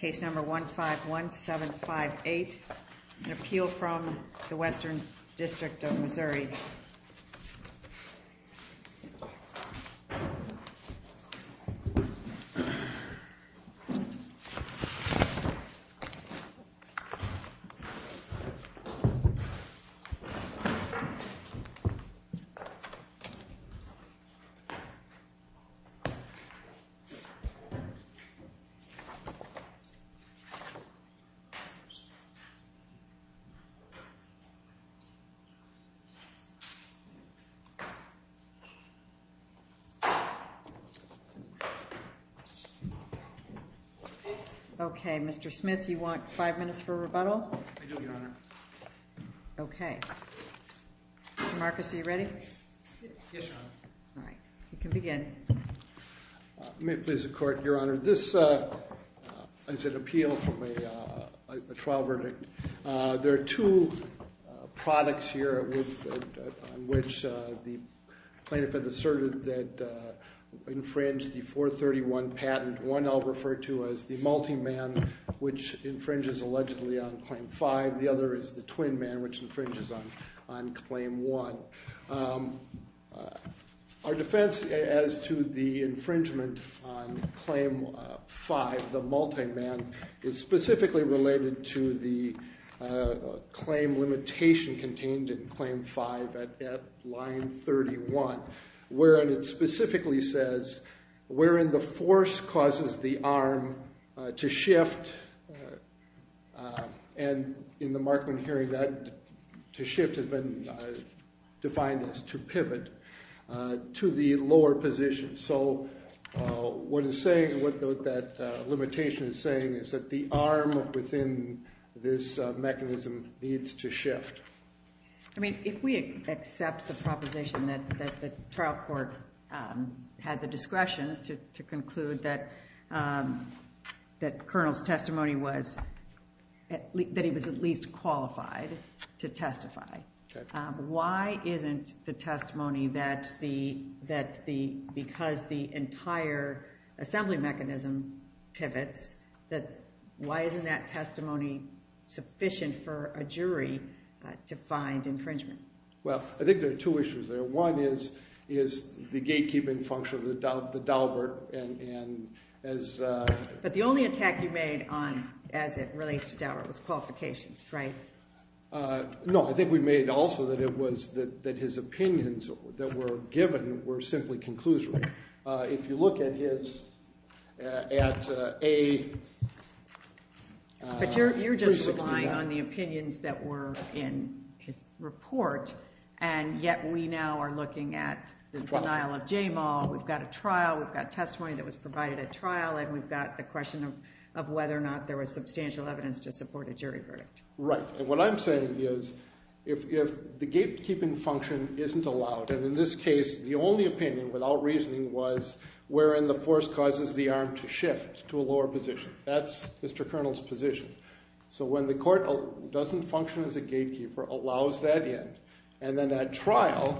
Case number 151758, an appeal from the Western District of Missouri. Okay, Mr. Smith, you want five minutes for rebuttal? I do, Your Honor. Okay. Mr. Marcus, are you ready? Yes, Your Honor. All right. You can begin. May it please the Court, Your Honor, this is an appeal from a trial verdict. There are two products here on which the plaintiff has asserted that infringe the 431 patent. One I'll refer to as the multi-man, which infringes allegedly on Claim 5. The other is the twin man, which infringes on Claim 1. Our defense as to the infringement on Claim 5, the multi-man, is specifically related to the claim limitation contained in Claim 5 at line 31, wherein it specifically says, wherein the force causes the arm to shift, and in the Markman hearing, that to shift has been defined as to pivot to the lower position. So what that limitation is saying is that the arm within this mechanism needs to shift. I mean, if we accept the proposition that the trial court had the discretion to conclude that Colonel's testimony was, that he was at least qualified to testify, why isn't the testimony that the, because the entire assembly mechanism pivots, that why isn't that testimony sufficient for a jury to find infringement? Well, I think there are two issues there. One is the gatekeeping function of the Daubert, and as... But the only attack you made on, as it relates to Daubert, was qualifications, right? No, I think we made also that it was, that his opinions that were given were simply conclusory. If you look at his, at a... But you're just relying on the opinions that were in his report, and yet we now are looking at the denial of Jamal. We've got a trial, we've got testimony that was provided at trial, and we've got the question of whether or not there was substantial evidence to support a jury verdict. Right, and what I'm saying is if the gatekeeping function isn't allowed, and in this case the only opinion, without reasoning, was wherein the force causes the arm to shift to a lower position. That's Mr. Colonel's position. So when the court doesn't function as a gatekeeper, allows that in. And then at trial,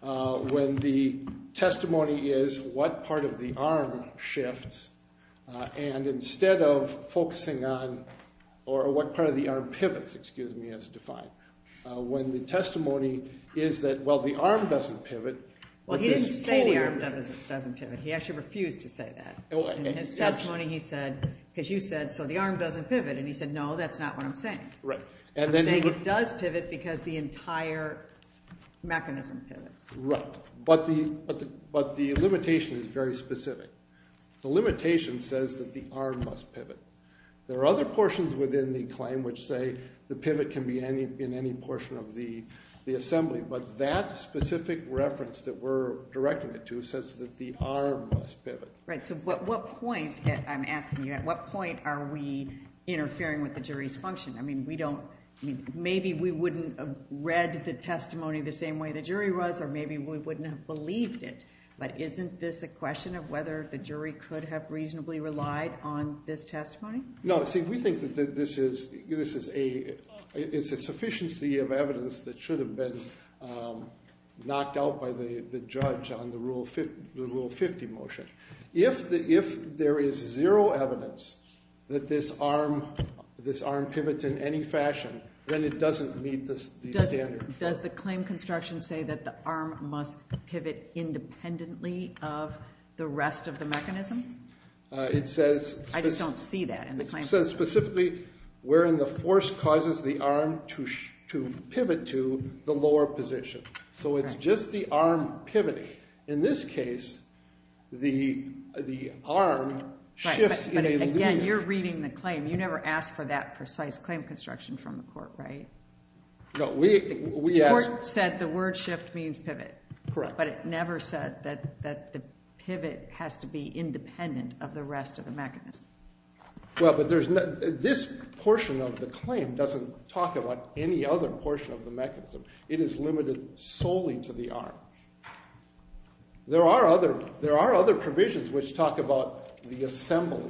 when the testimony is what part of the arm shifts, and instead of focusing on, or what part of the arm pivots, excuse me, as defined. When the testimony is that, well, the arm doesn't pivot. Well, he didn't say the arm doesn't pivot. He actually refused to say that. In his testimony he said, because you said, so the arm doesn't pivot. And he said, no, that's not what I'm saying. I'm saying it does pivot because the entire mechanism pivots. Right, but the limitation is very specific. The limitation says that the arm must pivot. There are other portions within the claim which say the pivot can be in any portion of the assembly. But that specific reference that we're directing it to says that the arm must pivot. Right, so what point, I'm asking you, at what point are we interfering with the jury's function? I mean, maybe we wouldn't have read the testimony the same way the jury was, or maybe we wouldn't have believed it. But isn't this a question of whether the jury could have reasonably relied on this testimony? No, see, we think that this is a sufficiency of evidence that should have been knocked out by the judge on the Rule 50 motion. If there is zero evidence that this arm pivots in any fashion, then it doesn't meet the standard. Does the claim construction say that the arm must pivot independently of the rest of the mechanism? It says... I just don't see that in the claim. It says specifically wherein the force causes the arm to pivot to the lower position. So it's just the arm pivoting. In this case, the arm shifts in a linear... Right, but again, you're reading the claim. You never asked for that precise claim construction from the court, right? No, we asked... The court said the word shift means pivot. Correct. But it never said that the pivot has to be independent of the rest of the mechanism. Well, but this portion of the claim doesn't talk about any other portion of the mechanism. It is limited solely to the arm. There are other provisions which talk about the assembly,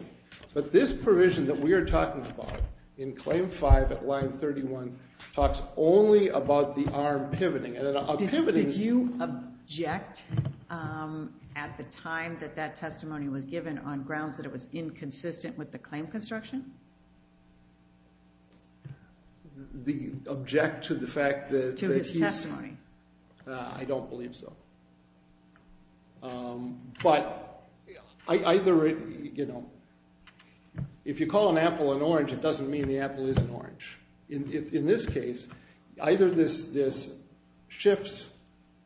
but this provision that we are talking about in claim 5 at line 31 talks only about the arm pivoting. Did you object at the time that that testimony was given on grounds that it was inconsistent with the claim construction? The object to the fact that... To his testimony. I don't believe so. But either... If you call an apple an orange, it doesn't mean the apple is an orange. In this case, either this shifts...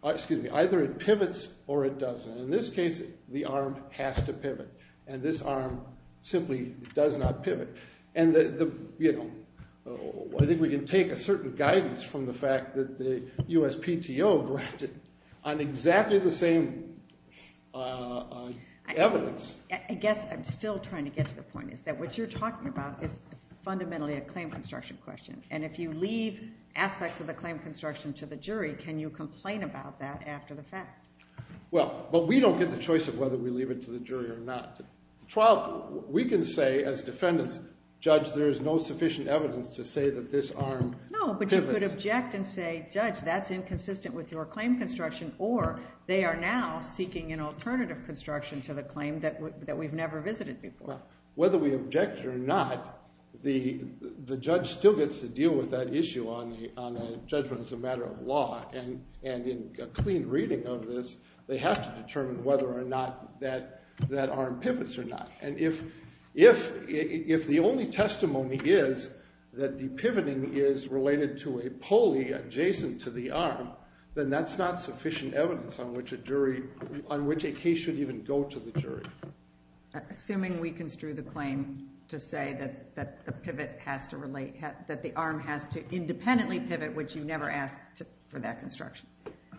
Excuse me, either it pivots or it doesn't. In this case, the arm has to pivot, and this arm simply does not pivot. I think we can take a certain guidance from the fact that the USPTO granted on exactly the same evidence. I guess I'm still trying to get to the point is that what you're talking about is fundamentally a claim construction question. And if you leave aspects of the claim construction to the jury, can you complain about that after the fact? Well, but we don't get the choice of whether we leave it to the jury or not. We can say as defendants, Judge, there is no sufficient evidence to say that this arm pivots. No, but you could object and say, Judge, that's inconsistent with your claim construction, or they are now seeking an alternative construction to the claim that we've never visited before. Whether we object or not, the judge still gets to deal with that issue on a judgment as a matter of law. And in a clean reading of this, they have to determine whether or not that arm pivots or not. And if the only testimony is that the pivoting is related to a pulley adjacent to the arm, then that's not sufficient evidence on which a jury – on which a case should even go to the jury. Assuming we construe the claim to say that the pivot has to relate – that the arm has to independently pivot, which you never asked for that construction.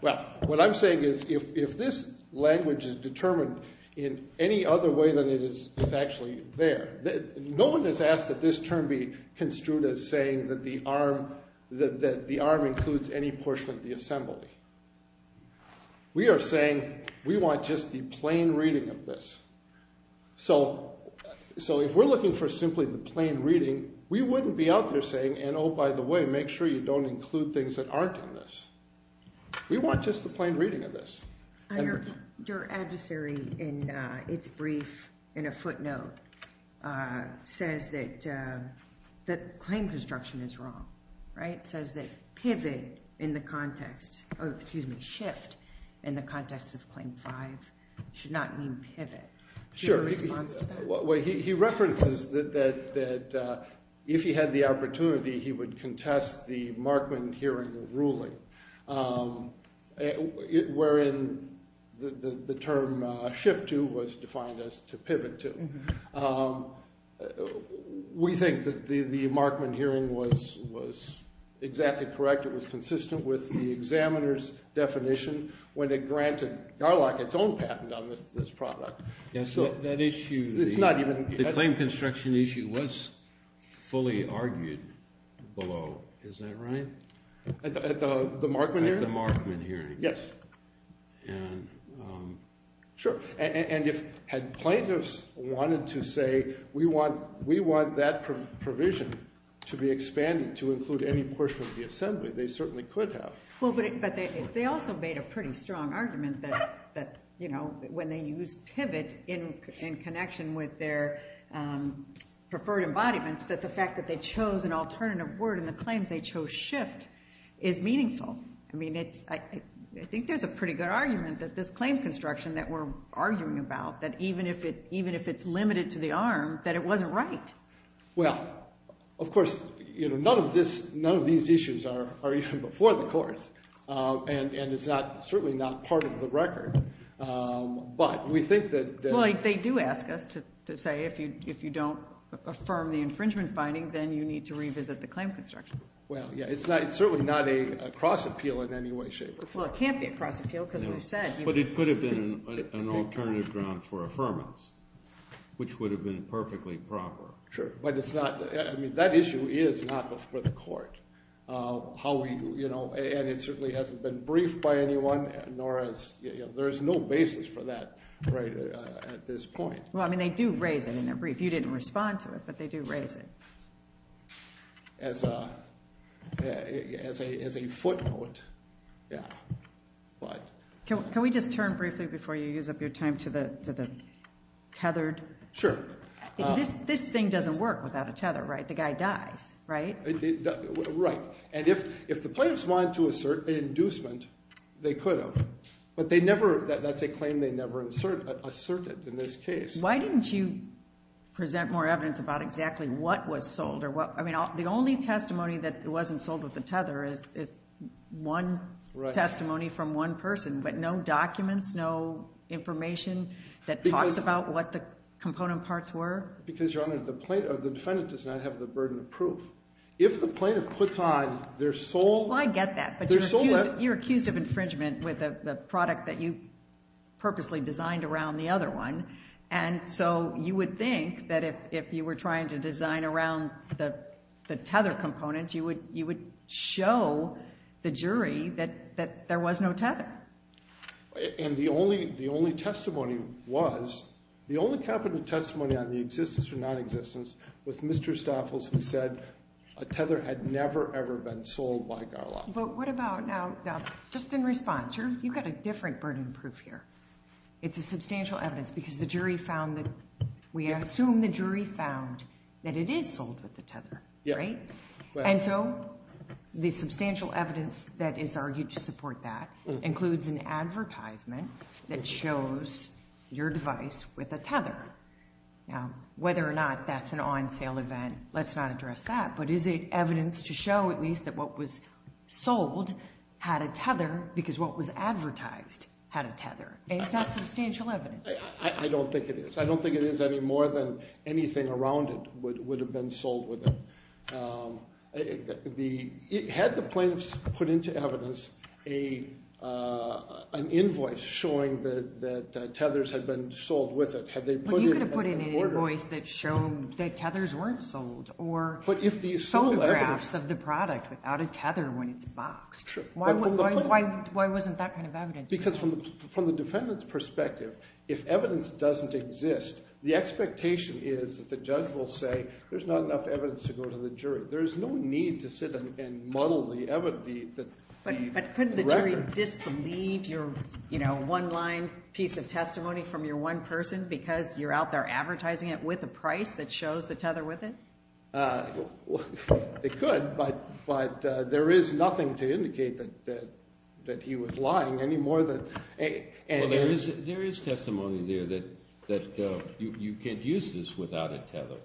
Well, what I'm saying is if this language is determined in any other way than it is actually there, no one has asked that this term be construed as saying that the arm includes any portion of the assembly. We are saying we want just the plain reading of this. So if we're looking for simply the plain reading, we wouldn't be out there saying, and oh, by the way, make sure you don't include things that aren't in this. We want just the plain reading of this. Your adversary, in its brief, in a footnote, says that claim construction is wrong. It says that pivot in the context – excuse me, shift in the context of Claim 5 should not mean pivot. Do you have a response to that? Well, he references that if he had the opportunity, he would contest the Markman hearing ruling, wherein the term shift to was defined as to pivot to. We think that the Markman hearing was exactly correct. It was consistent with the examiner's definition when it granted Garlock its own patent on this product. That issue, the claim construction issue, was fully argued below, is that right? At the Markman hearing? At the Markman hearing. Yes. And if plaintiffs wanted to say we want that provision to be expanded to include any portion of the assembly, they certainly could have. But they also made a pretty strong argument that when they use pivot in connection with their preferred embodiments, that the fact that they chose an alternative word in the claims they chose shift is meaningful. I think there's a pretty good argument that this claim construction that we're arguing about, that even if it's limited to the arm, that it wasn't right. Well, of course, none of these issues are even before the courts, and it's certainly not part of the record. But we think that- Well, they do ask us to say if you don't affirm the infringement finding, then you need to revisit the claim construction. Well, yeah, it's certainly not a cross appeal in any way, shape, or form. Well, it can't be a cross appeal because we said- But it could have been an alternative ground for affirmance, which would have been perfectly proper. Sure. But it's not-I mean, that issue is not before the court. And it certainly hasn't been briefed by anyone, nor is-there is no basis for that right at this point. Well, I mean, they do raise it in their brief. You didn't respond to it, but they do raise it. As a footnote, yeah. Can we just turn briefly before you use up your time to the tethered- Sure. This thing doesn't work without a tether, right? The guy dies, right? Right. And if the plaintiffs wanted to assert an inducement, they could have. But they never-that's a claim they never asserted in this case. Why didn't you present more evidence about exactly what was sold? I mean, the only testimony that wasn't sold with the tether is one testimony from one person. But no documents, no information that talks about what the component parts were? Because, Your Honor, the defendant does not have the burden of proof. If the plaintiff puts on their sole- Well, I get that. But you're accused of infringement with a product that you purposely designed around the other one. And so you would think that if you were trying to design around the tether component, you would show the jury that there was no tether. And the only testimony was-the only capital testimony on the existence or non-existence was Mr. Stoffels who said a tether had never, ever been sold by Garlot. But what about-now, just in response, you've got a different burden of proof here. It's a substantial evidence because the jury found that-we assume the jury found that it is sold with the tether. Right? And so the substantial evidence that is argued to support that includes an advertisement that shows your device with a tether. Now, whether or not that's an on-sale event, let's not address that. But is it evidence to show, at least, that what was sold had a tether because what was advertised had a tether? And is that substantial evidence? I don't think it is. I don't think it is any more than anything around it would have been sold with it. Had the plaintiffs put into evidence an invoice showing that tethers had been sold with it? Well, you could have put in an invoice that showed that tethers weren't sold or photographs of the product without a tether when it's boxed. Why wasn't that kind of evidence? Because from the defendant's perspective, if evidence doesn't exist, the expectation is that the judge will say there's not enough evidence to go to the jury. There is no need to sit and muddle the record. But couldn't the jury disbelieve your one-line piece of testimony from your one person because you're out there advertising it with a price that shows the tether with it? They could, but there is nothing to indicate that he was lying any more than... Well, there is testimony there that you can't use this without a tether.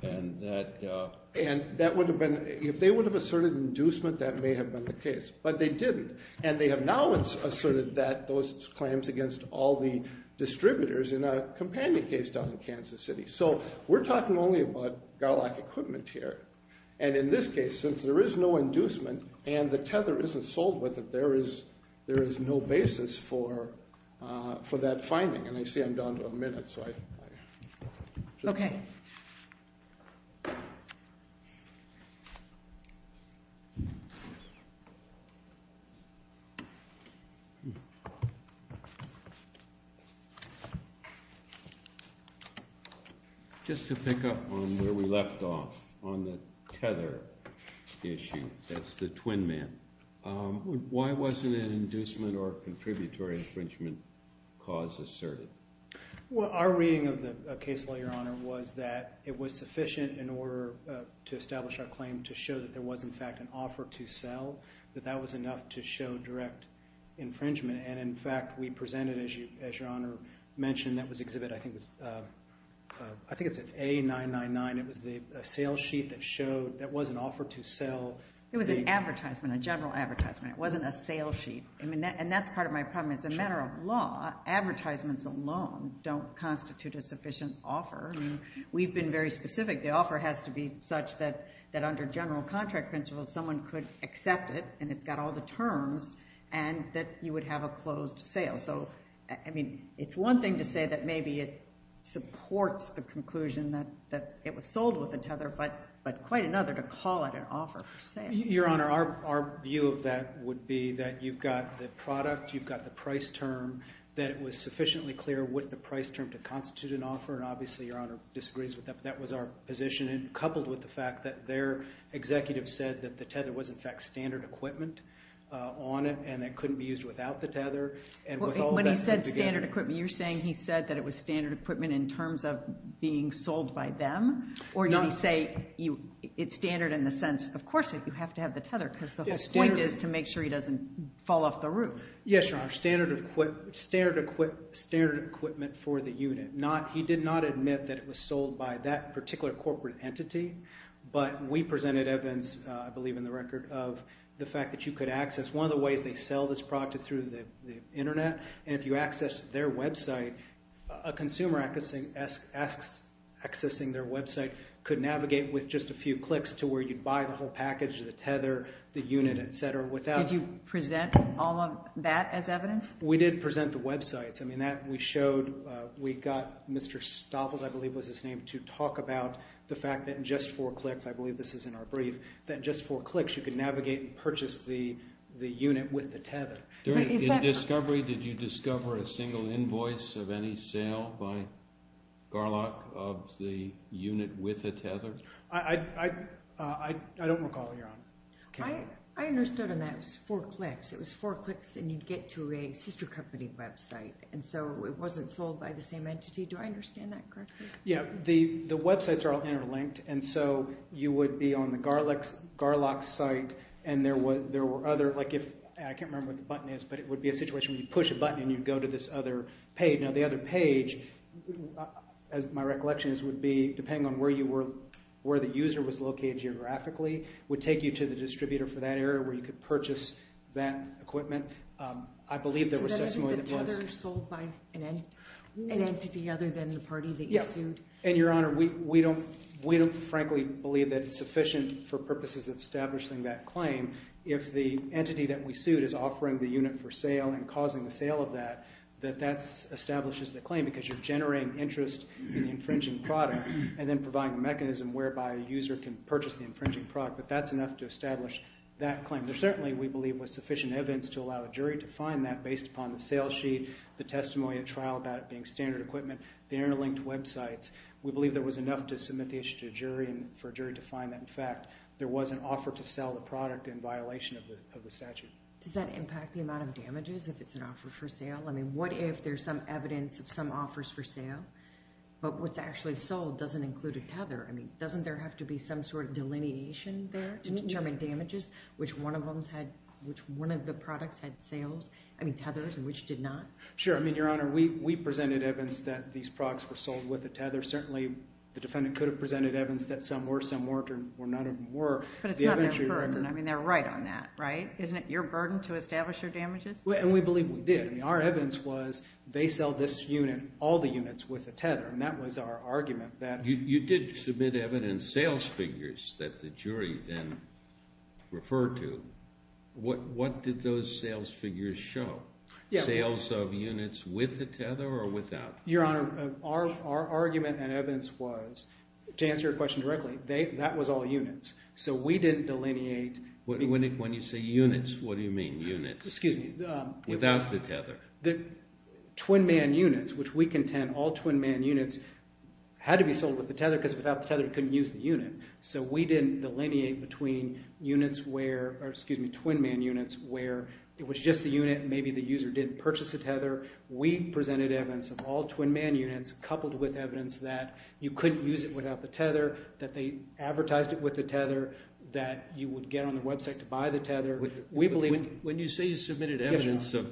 And that would have been, if they would have asserted inducement, that may have been the case. But they didn't. And they have now asserted that those claims against all the distributors in a companion case down in Kansas City. So we're talking only about GALAC equipment here. And in this case, since there is no inducement and the tether isn't sold with it, there is no basis for that finding. And I see I'm down to a minute, so I should stop. Okay. Just to pick up on where we left off on the tether issue, that's the twin man. Why wasn't an inducement or contributory infringement cause asserted? Well, our reading of the case law, Your Honor, was that it was sufficient in order to establish our claim to show that there was, in fact, an offer to sell, that that was enough to show direct infringement. And, in fact, we presented, as Your Honor mentioned, that was Exhibit, I think it's A999. It was a sales sheet that was an offer to sell. It was an advertisement, a general advertisement. It wasn't a sales sheet. And that's part of my problem. As a matter of law, advertisements alone don't constitute a sufficient offer. We've been very specific. The offer has to be such that under general contract principles, someone could accept it and it's got all the terms and that you would have a closed sale. So, I mean, it's one thing to say that maybe it supports the conclusion that it was sold with a tether, but quite another to call it an offer for sale. Your Honor, our view of that would be that you've got the product, you've got the price term, that it was sufficiently clear what the price term to constitute an offer, and obviously Your Honor disagrees with that, but that was our position. And coupled with the fact that their executive said that the tether was, in fact, standard equipment on it and it couldn't be used without the tether. When he said standard equipment, you're saying he said that it was standard equipment in terms of being sold by them? Or did he say it's standard in the sense, of course you have to have the tether, because the whole point is to make sure he doesn't fall off the roof. Yes, Your Honor, standard equipment for the unit. He did not admit that it was sold by that particular corporate entity, but we presented evidence, I believe in the record, of the fact that you could access. One of the ways they sell this product is through the Internet, and if you access their website, a consumer accessing their website could navigate with just a few clicks to where you'd buy the whole package, the tether, the unit, et cetera. Did you present all of that as evidence? We did present the websites. We got Mr. Staples, I believe was his name, to talk about the fact that in just four clicks, I believe this is in our brief, that in just four clicks you could navigate and purchase the unit with the tether. In discovery, did you discover a single invoice of any sale by Garlock of the unit with the tether? I don't recall, Your Honor. I understood on that it was four clicks. It was four clicks, and you'd get to a sister company website, and so it wasn't sold by the same entity. Do I understand that correctly? Yeah, the websites are all interlinked, and so you would be on the Garlock site, and there were other, like if, I can't remember what the button is, but it would be a situation where you push a button and you'd go to this other page. Now, the other page, as my recollection is, would be, depending on where you were, where the user was located geographically, would take you to the distributor for that area where you could purchase that equipment. I believe there was testimony that was. So that isn't the tether sold by an entity other than the party that you sued? Yeah, and, Your Honor, we don't frankly believe that it's sufficient for purposes of establishing that claim. If the entity that we sued is offering the unit for sale and causing the sale of that, that that establishes the claim because you're generating interest in the infringing product and then providing a mechanism whereby a user can purchase the infringing product, that that's enough to establish that claim. There certainly, we believe, was sufficient evidence to allow a jury to find that based upon the sale sheet, the testimony at trial about it being standard equipment, the interlinked websites. We believe there was enough to submit the issue to a jury and for a jury to find that, in fact, there was an offer to sell the product in violation of the statute. Does that impact the amount of damages if it's an offer for sale? I mean, what if there's some evidence of some offers for sale, but what's actually sold doesn't include a tether? I mean, doesn't there have to be some sort of delineation there to determine damages, which one of the products had sales, I mean, tethers, and which did not? I mean, Your Honor, we presented evidence that these products were sold with a tether. Certainly, the defendant could have presented evidence that some were, some weren't, or none of them were. But it's not their burden. I mean, they're right on that, right? Isn't it your burden to establish their damages? And we believe we did. I mean, our evidence was they sell this unit, all the units, with a tether, and that was our argument. You did submit evidence, sales figures that the jury then referred to. What did those sales figures show? Sales of units with a tether or without? Your Honor, our argument and evidence was, to answer your question directly, that was all units. So we didn't delineate. When you say units, what do you mean, units? Excuse me. Without the tether. Twin-man units, which we contend all twin-man units had to be sold with the tether because without the tether you couldn't use the unit. So we didn't delineate between units where, or excuse me, twin-man units, where it was just the unit and maybe the user didn't purchase the tether. We presented evidence of all twin-man units coupled with evidence that you couldn't use it without the tether, that they advertised it with the tether, that you would get on the website to buy the tether. When you say you submitted evidence of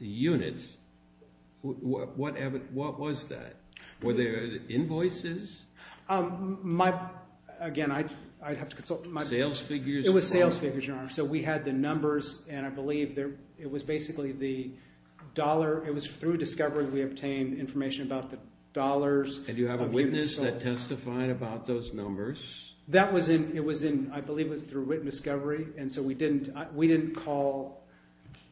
units, what was that? Were there invoices? Again, I'd have to consult. Sales figures. It was sales figures, Your Honor. So we had the numbers, and I believe it was basically the dollar. It was through discovery we obtained information about the dollars. And you have a witness that testified about those numbers? That was in, I believe it was through witness discovery, and so we didn't call,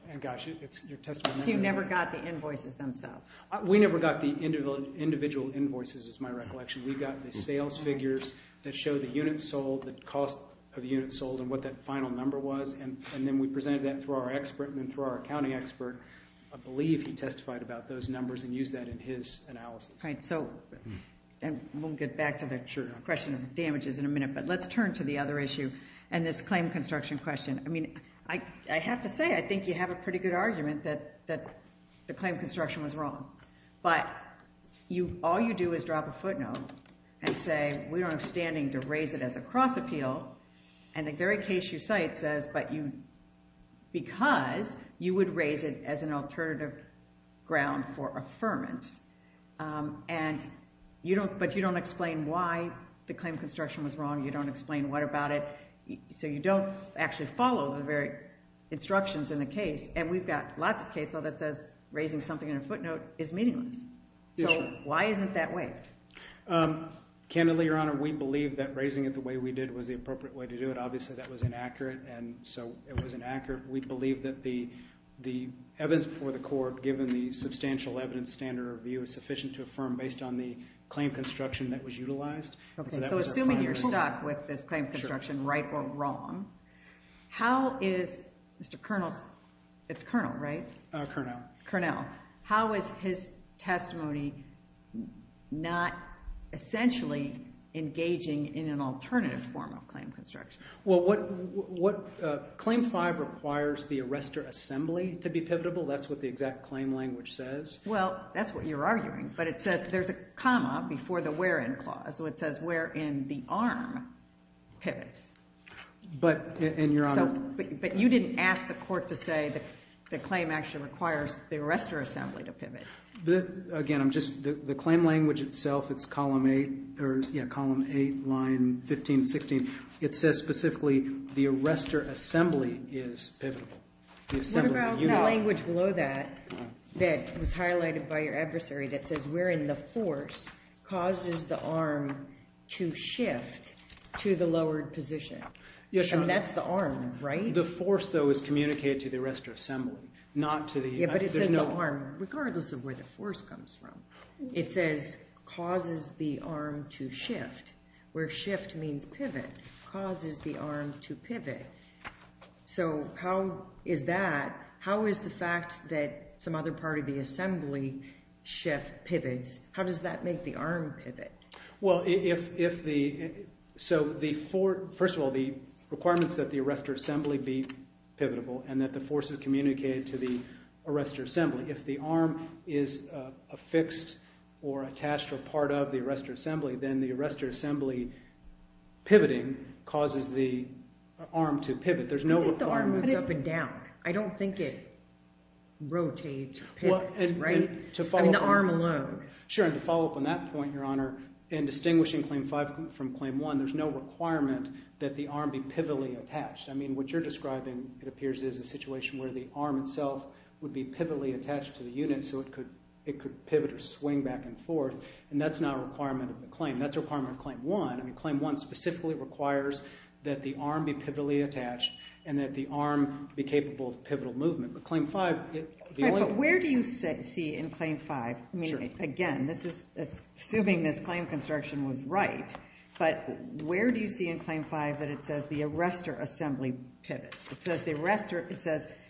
and gosh, it's your testimony. So you never got the invoices themselves? We never got the individual invoices is my recollection. We got the sales figures that show the units sold, the cost of units sold, and what that final number was, and then we presented that through our expert, and then through our accounting expert. I believe he testified about those numbers and used that in his analysis. We'll get back to the question of damages in a minute, but let's turn to the other issue and this claim construction question. I mean, I have to say, I think you have a pretty good argument that the claim construction was wrong, but all you do is drop a footnote and say, we don't have standing to raise it as a cross appeal, and the very case you cite says, but because you would raise it as an alternative ground for affirmance, but you don't explain why the claim construction was wrong, you don't explain what about it, so you don't actually follow the very instructions in the case, and we've got lots of cases where that says raising something in a footnote is meaningless. So why isn't that way? Candidly, Your Honor, we believe that raising it the way we did was the appropriate way to do it. Obviously, that was inaccurate, and so it was inaccurate. We believe that the evidence before the court, given the substantial evidence standard of view, is sufficient to affirm based on the claim construction that was utilized. Okay, so assuming you're stuck with this claim construction, right or wrong, how is Mr. Kernel's – it's Kernel, right? Kernel. Kernel. How is his testimony not essentially engaging in an alternative form of claim construction? Well, what – Claim 5 requires the arrestor assembly to be pivotable. That's what the exact claim language says. Well, that's what you're arguing, but it says there's a comma before the where in clause, so it says where in the arm pivots. But, Your Honor – But you didn't ask the court to say the claim actually requires the arrestor assembly to pivot. Again, I'm just – the claim language itself, it's Column 8, or yeah, Column 8, Line 15, 16. It says specifically the arrestor assembly is pivotable. What about the language below that that was highlighted by your adversary that says where in the force causes the arm to shift to the lowered position? Yes, Your Honor. And that's the arm, right? The force, though, is communicated to the arrestor assembly, not to the – Yeah, but it says the arm, regardless of where the force comes from, it says causes the arm to shift, where shift means pivot, causes the arm to pivot. So how is that – how is the fact that some other part of the assembly shift, pivots, how does that make the arm pivot? Well, if the – so the – first of all, the requirement is that the arrestor assembly be pivotable and that the force is communicated to the arrestor assembly. If the arm is affixed or attached or part of the arrestor assembly, then the arrestor assembly pivoting causes the arm to pivot. There's no requirement. I think the arm moves up and down. I don't think it rotates or pivots, right? I mean, the arm alone. Sure, and to follow up on that point, Your Honor, in distinguishing Claim 5 from Claim 1, there's no requirement that the arm be pivotally attached. I mean, what you're describing, it appears, is a situation where the arm itself would be pivotally attached to the unit so it could pivot or swing back and forth, and that's not a requirement of a claim. That's a requirement of Claim 1. I mean, Claim 1 specifically requires that the arm be pivotally attached and that the arm be capable of pivotal movement. But Claim 5, the only – But where do you see in Claim 5 – I mean, again, assuming this claim construction was right, but where do you see in Claim 5 that it says the arrestor assembly pivots? It says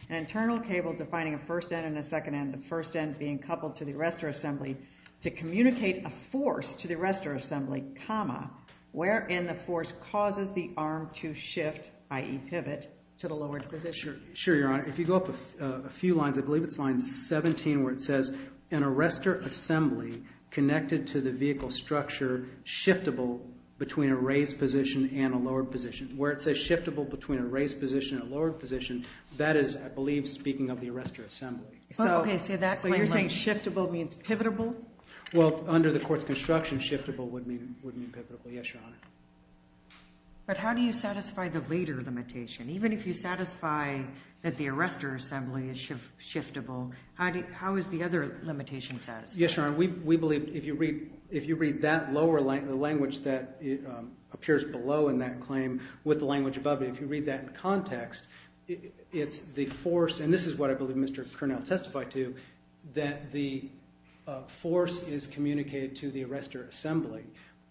an internal cable defining a first end and a second end, the first end being coupled to the arrestor assembly to communicate a force to the arrestor assembly, wherein the force causes the arm to shift, i.e., pivot, to the lowered position. Sure, Your Honor. If you go up a few lines, I believe it's line 17, where it says an arrestor assembly connected to the vehicle structure shiftable between a raised position and a lowered position. Where it says shiftable between a raised position and a lowered position, that is, I believe, speaking of the arrestor assembly. Okay, so that claim – So you're saying shiftable means pivotable? Well, under the court's construction, shiftable would mean pivotable. Yes, Your Honor. But how do you satisfy the later limitation? Even if you satisfy that the arrestor assembly is shiftable, how is the other limitation satisfied? Yes, Your Honor. We believe if you read that lower language that appears below in that claim with the language above it, if you read that in context, it's the force, and this is what I believe Mr. Cornell testified to, that the force is communicated to the arrestor assembly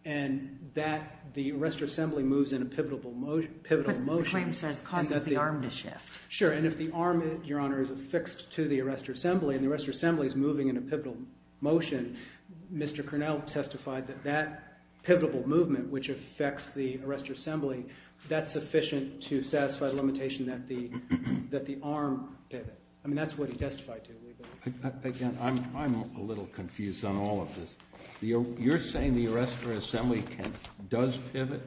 and that the arrestor assembly moves in a pivotal motion. But the claim says causes the arm to shift. Sure, and if the arm, Your Honor, is affixed to the arrestor assembly and the arrestor assembly is moving in a pivotal motion, Mr. Cornell testified that that pivotal movement, which affects the arrestor assembly, that's sufficient to satisfy the limitation that the arm pivot. I mean, that's what he testified to, we believe. Again, I'm a little confused on all of this. You're saying the arrestor assembly does pivot?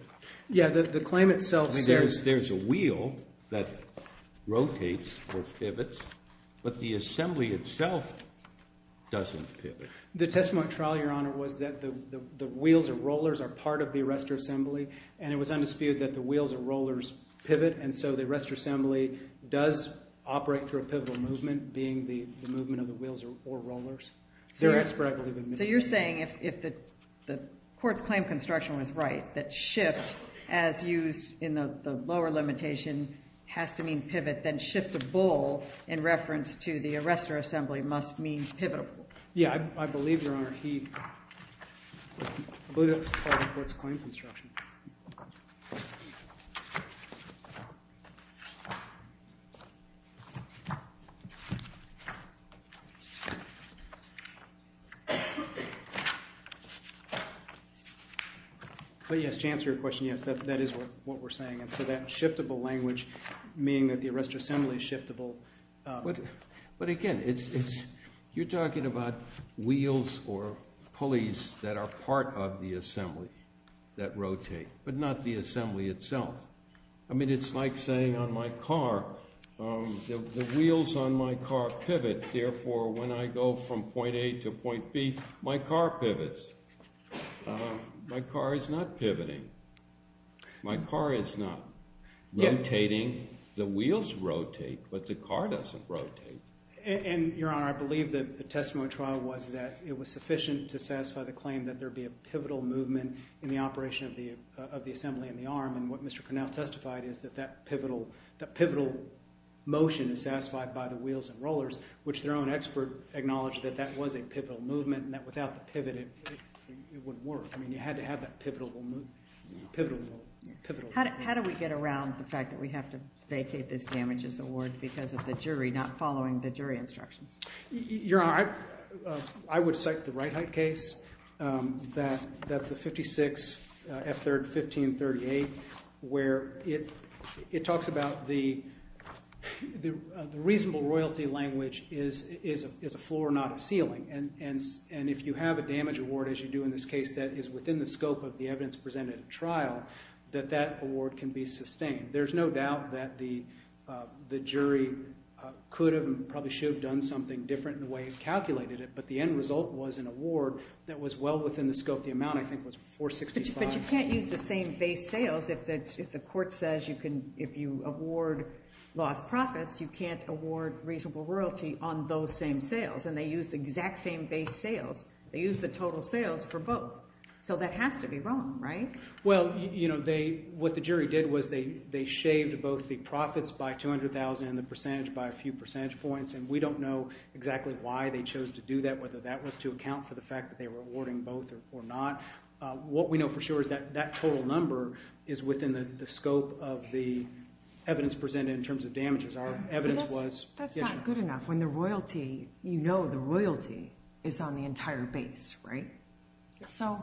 Yes, the claim itself says— I mean, there's a wheel that rotates or pivots, but the assembly itself doesn't pivot. The testimony at trial, Your Honor, was that the wheels or rollers are part of the arrestor assembly, and it was undisputed that the wheels or rollers pivot, and so the arrestor assembly does operate through a pivotal movement, being the movement of the wheels or rollers. So you're saying if the court's claim construction was right, that shift, as used in the lower limitation, has to mean pivot, then shift the bull in reference to the arrestor assembly must mean pivotal. Yeah, I believe, Your Honor, he—I believe that's part of the court's claim construction. But yes, to answer your question, yes, that is what we're saying. And so that shiftable language, meaning that the arrestor assembly is shiftable— but again, you're talking about wheels or pulleys that are part of the assembly that rotate, but not the assembly itself. I mean, it's like saying on my car, the wheels on my car pivot, therefore when I go from point A to point B, my car pivots. My car is not pivoting. My car is not rotating. The wheels rotate, but the car doesn't rotate. And, Your Honor, I believe that the testimony trial was that it was sufficient to satisfy the claim that there be a pivotal movement in the operation of the assembly in the arm, and what Mr. Cornell testified is that that pivotal motion is satisfied by the wheels and rollers, which their own expert acknowledged that that was a pivotal movement, and that without the pivot, it wouldn't work. I mean, you had to have that pivotal movement. How do we get around the fact that we have to vacate this damages award because of the jury not following the jury instructions? Your Honor, I would cite the Reithe case. That's the 56 F3rd 1538 where it talks about the reasonable royalty language is a floor, not a ceiling. And if you have a damage award, as you do in this case, that is within the scope of the evidence presented at trial, that that award can be sustained. There's no doubt that the jury could have and probably should have done something different in the way it calculated it, but the end result was an award that was well within the scope. The amount, I think, was $465. But you can't use the same base sales if the court says you can – if you award lost profits, you can't award reasonable royalty on those same sales, and they use the exact same base sales. They use the total sales for both. So that has to be wrong, right? Well, what the jury did was they shaved both the profits by $200,000 and the percentage by a few percentage points, and we don't know exactly why they chose to do that, whether that was to account for the fact that they were awarding both or not. What we know for sure is that that total number is within the scope of the evidence presented in terms of damages. Our evidence was – That's not good enough. When the royalty – you know the royalty is on the entire base, right? So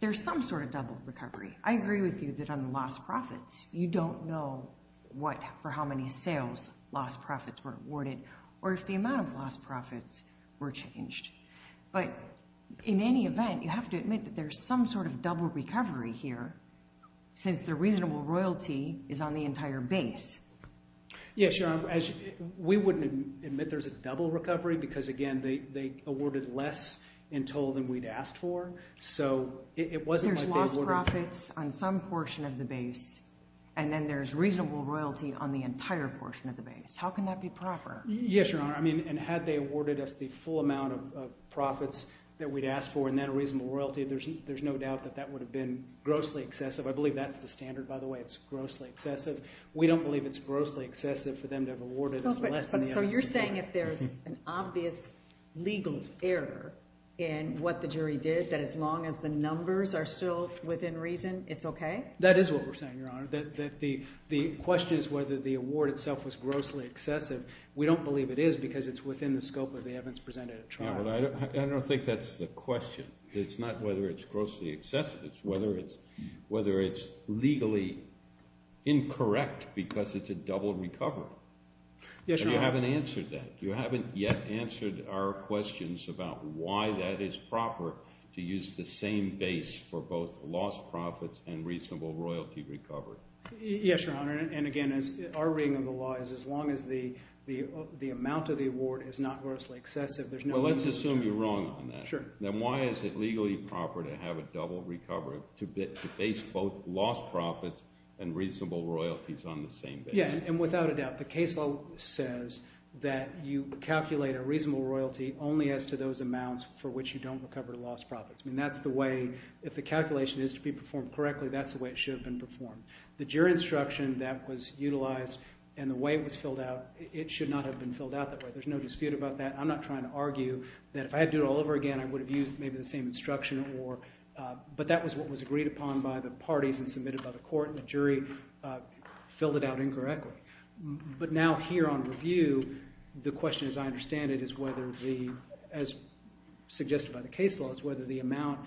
there's some sort of double recovery. I agree with you that on the lost profits, you don't know what – for how many sales lost profits were awarded or if the amount of lost profits were changed. But in any event, you have to admit that there's some sort of double recovery here since the reasonable royalty is on the entire base. Yes, Your Honor. We wouldn't admit there's a double recovery because, again, they awarded less in total than we'd asked for. So it wasn't like they awarded – There's lost profits on some portion of the base, and then there's reasonable royalty on the entire portion of the base. How can that be proper? Yes, Your Honor. I mean, and had they awarded us the full amount of profits that we'd asked for and then a reasonable royalty, there's no doubt that that would have been grossly excessive. I believe that's the standard, by the way. It's grossly excessive. We don't believe it's grossly excessive for them to have awarded us less than the evidence. So you're saying if there's an obvious legal error in what the jury did, that as long as the numbers are still within reason, it's okay? That is what we're saying, Your Honor, that the question is whether the award itself was grossly excessive. We don't believe it is because it's within the scope of the evidence presented at trial. I don't think that's the question. It's not whether it's grossly excessive. It's whether it's legally incorrect because it's a double recovery. Yes, Your Honor. And you haven't answered that. You haven't yet answered our questions about why that is proper to use the same base for both lost profits and reasonable royalty recovery. Yes, Your Honor, and again, our reading of the law is as long as the amount of the award is not grossly excessive. Well, let's assume you're wrong on that. Sure. Then why is it legally proper to have a double recovery to base both lost profits and reasonable royalties on the same base? Yeah, and without a doubt, the case law says that you calculate a reasonable royalty only as to those amounts for which you don't recover lost profits. I mean that's the way if the calculation is to be performed correctly, that's the way it should have been performed. The jury instruction that was utilized and the way it was filled out, it should not have been filled out that way. There's no dispute about that. I'm not trying to argue that if I had to do it all over again, I would have used maybe the same instruction or – but that was what was agreed upon by the parties and submitted by the court, and the jury filled it out incorrectly. But now here on review, the question as I understand it is whether the – as suggested by the case law, is whether the amount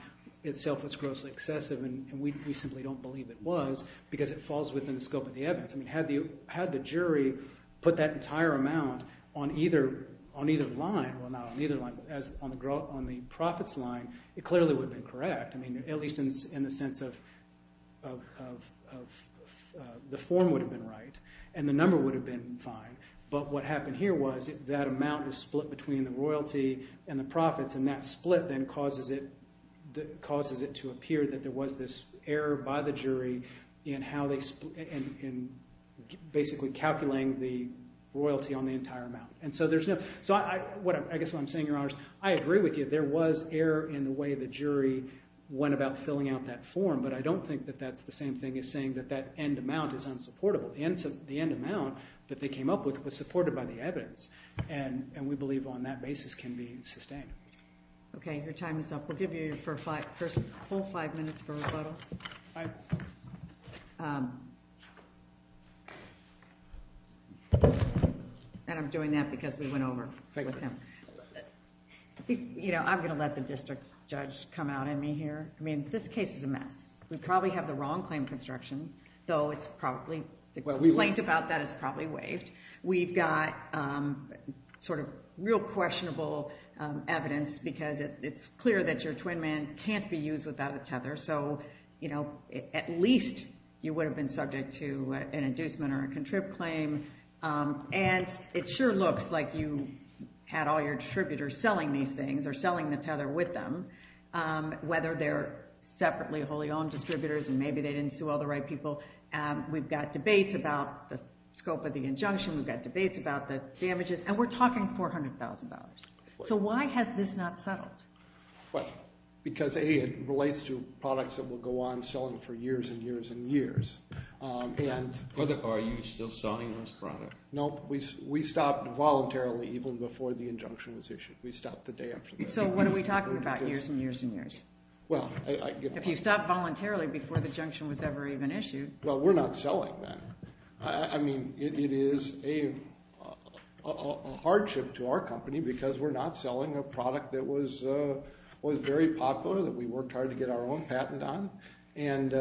itself was grossly excessive, and we simply don't believe it was because it falls within the scope of the evidence. I mean had the jury put that entire amount on either line – well, not on either line, but on the profits line, it clearly would have been correct. I mean at least in the sense of the form would have been right and the number would have been fine. But what happened here was that amount is split between the royalty and the profits, and that split then causes it to appear that there was this error by the jury in how they – in basically calculating the royalty on the entire amount. And so there's no – so I guess what I'm saying, Your Honors, I agree with you. There was error in the way the jury went about filling out that form, but I don't think that that's the same thing as saying that that end amount is unsupportable. The end amount that they came up with was supported by the evidence, and we believe on that basis can be sustained. Okay, your time is up. We'll give you your first full five minutes for rebuttal. And I'm doing that because we went over with him. I'm going to let the district judge come out on me here. I mean this case is a mess. We probably have the wrong claim construction, though it's probably – the complaint about that is probably waived. We've got sort of real questionable evidence because it's clear that your twin man can't be used without a tether, so, you know, at least you would have been subject to an inducement or a contrived claim. And it sure looks like you had all your distributors selling these things or selling the tether with them, whether they're separately wholly owned distributors and maybe they didn't sue all the right people. We've got debates about the scope of the injunction. We've got debates about the damages, and we're talking $400,000. So why has this not settled? Because, A, it relates to products that will go on selling for years and years and years. Are you still selling those products? No, we stopped voluntarily even before the injunction was issued. We stopped the day after that. So what are we talking about, years and years and years? Well, I – If you stopped voluntarily before the injunction was ever even issued. Well, we're not selling them. I mean, it is a hardship to our company because we're not selling a product that was very popular, that we worked hard to get our own patent on, and, you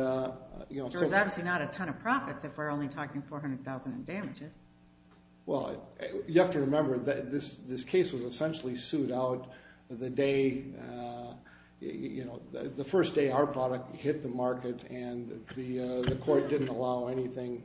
know, so – There's obviously not a ton of profits if we're only talking $400,000 in damages. Well, you have to remember that this case was essentially sued out the day, you know, the first day our product hit the market, and the court didn't allow anything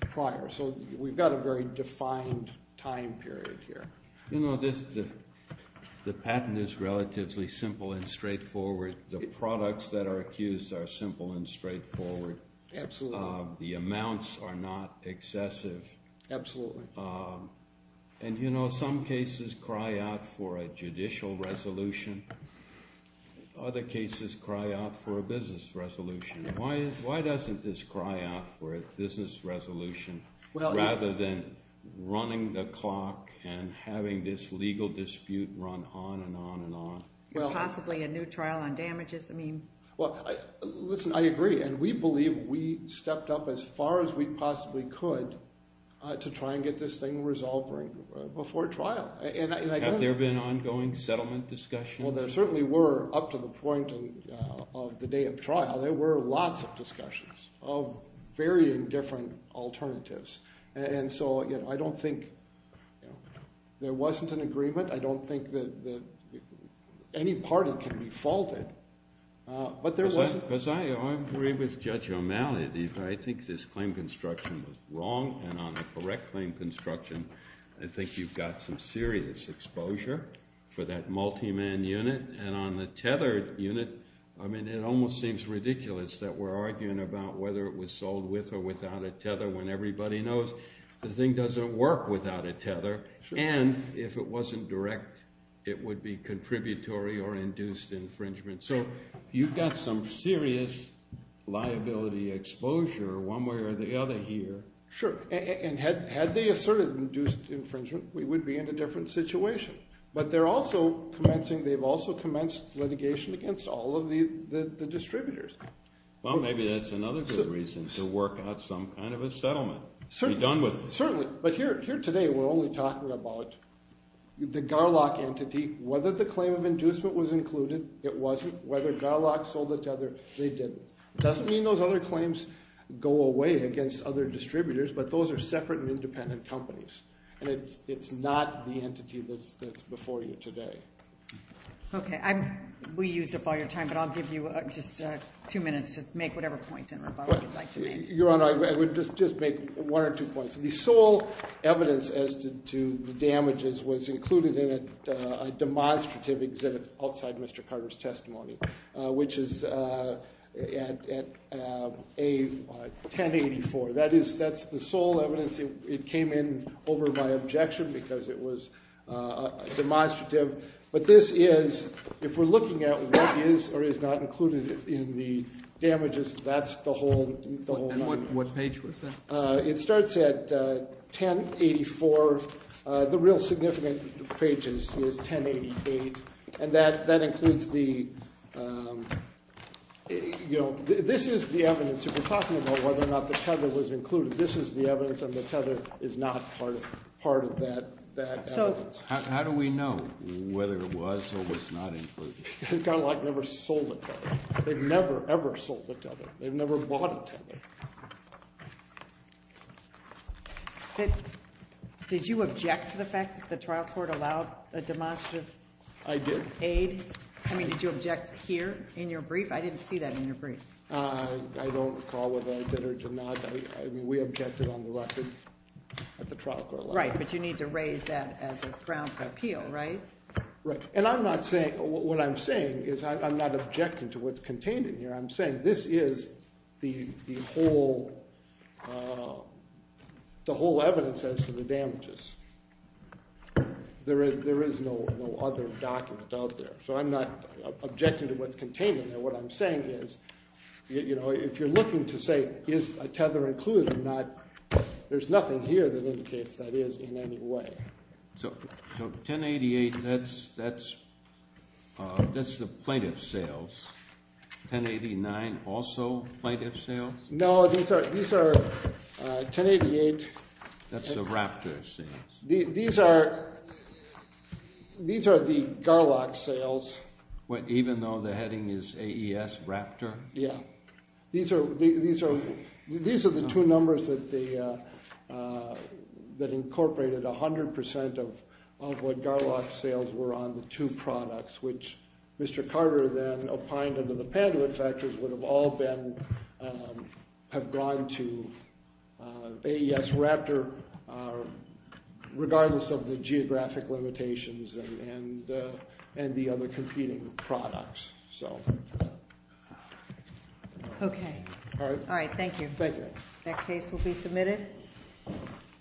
prior. So we've got a very defined time period here. You know, the patent is relatively simple and straightforward. The products that are accused are simple and straightforward. Absolutely. The amounts are not excessive. Absolutely. And, you know, some cases cry out for a judicial resolution. Other cases cry out for a business resolution. Why doesn't this cry out for a business resolution rather than running the clock and having this legal dispute run on and on and on? Possibly a new trial on damages. I mean – We stepped up as far as we possibly could to try and get this thing resolved before trial. Have there been ongoing settlement discussions? Well, there certainly were up to the point of the day of trial. There were lots of discussions of varying different alternatives. And so, you know, I don't think – there wasn't an agreement. I don't think that any party can be faulted. But there was – Because I agree with Judge O'Malley. I think this claim construction was wrong, and on the correct claim construction, I think you've got some serious exposure for that multi-man unit. And on the tethered unit, I mean, it almost seems ridiculous that we're arguing about whether it was sold with or without a tether when everybody knows the thing doesn't work without a tether. And if it wasn't direct, it would be contributory or induced infringement. So you've got some serious liability exposure one way or the other here. Sure. And had they asserted induced infringement, we would be in a different situation. But they're also commencing – they've also commenced litigation against all of the distributors. Well, maybe that's another good reason to work out some kind of a settlement. Certainly. Be done with it. Certainly. But here today, we're only talking about the Garlock entity. Whether the claim of inducement was included, it wasn't. Whether Garlock sold the tether, they didn't. It doesn't mean those other claims go away against other distributors, but those are separate and independent companies, and it's not the entity that's before you today. Okay. We used up all your time, but I'll give you just two minutes to make whatever points in rebuttal you'd like to make. Your Honor, I would just make one or two points. The sole evidence as to the damages was included in a demonstrative exhibit outside Mr. Carter's testimony, which is at A1084. That is – that's the sole evidence. It came in over my objection because it was demonstrative. But this is – if we're looking at what is or is not included in the damages, that's the whole – And what page was that? It starts at 1084. The real significant page is 1088. And that includes the – you know, this is the evidence. If we're talking about whether or not the tether was included, this is the evidence, and the tether is not part of that evidence. How do we know whether it was or was not included? Garlock never sold the tether. They've never, ever sold the tether. They've never bought a tether. Did you object to the fact that the trial court allowed a demonstrative aid? I did. I mean, did you object here in your brief? I didn't see that in your brief. I don't recall whether I did or did not. I mean, we objected on the record that the trial court allowed it. Right, but you need to raise that as a ground for appeal, right? Right. And I'm not saying – what I'm saying is I'm not objecting to what's contained in here. I'm saying this is the whole evidence as to the damages. There is no other document out there. So I'm not objecting to what's contained in there. What I'm saying is, you know, if you're looking to say is a tether included or not, there's nothing here that indicates that is in any way. So 1088, that's the plaintiff's sales. 1089, also plaintiff's sales? No, these are – 1088. That's the Raptor's sales. These are the Garlock's sales. Even though the heading is AES Raptor? Yeah. These are the two numbers that incorporated 100% of what Garlock's sales were on the two products, which Mr. Carter then opined under the Panduit factors would have all been – have gone to AES Raptor regardless of the geographic limitations and the other competing products. Okay. All right. Thank you. Thank you. That case will be submitted.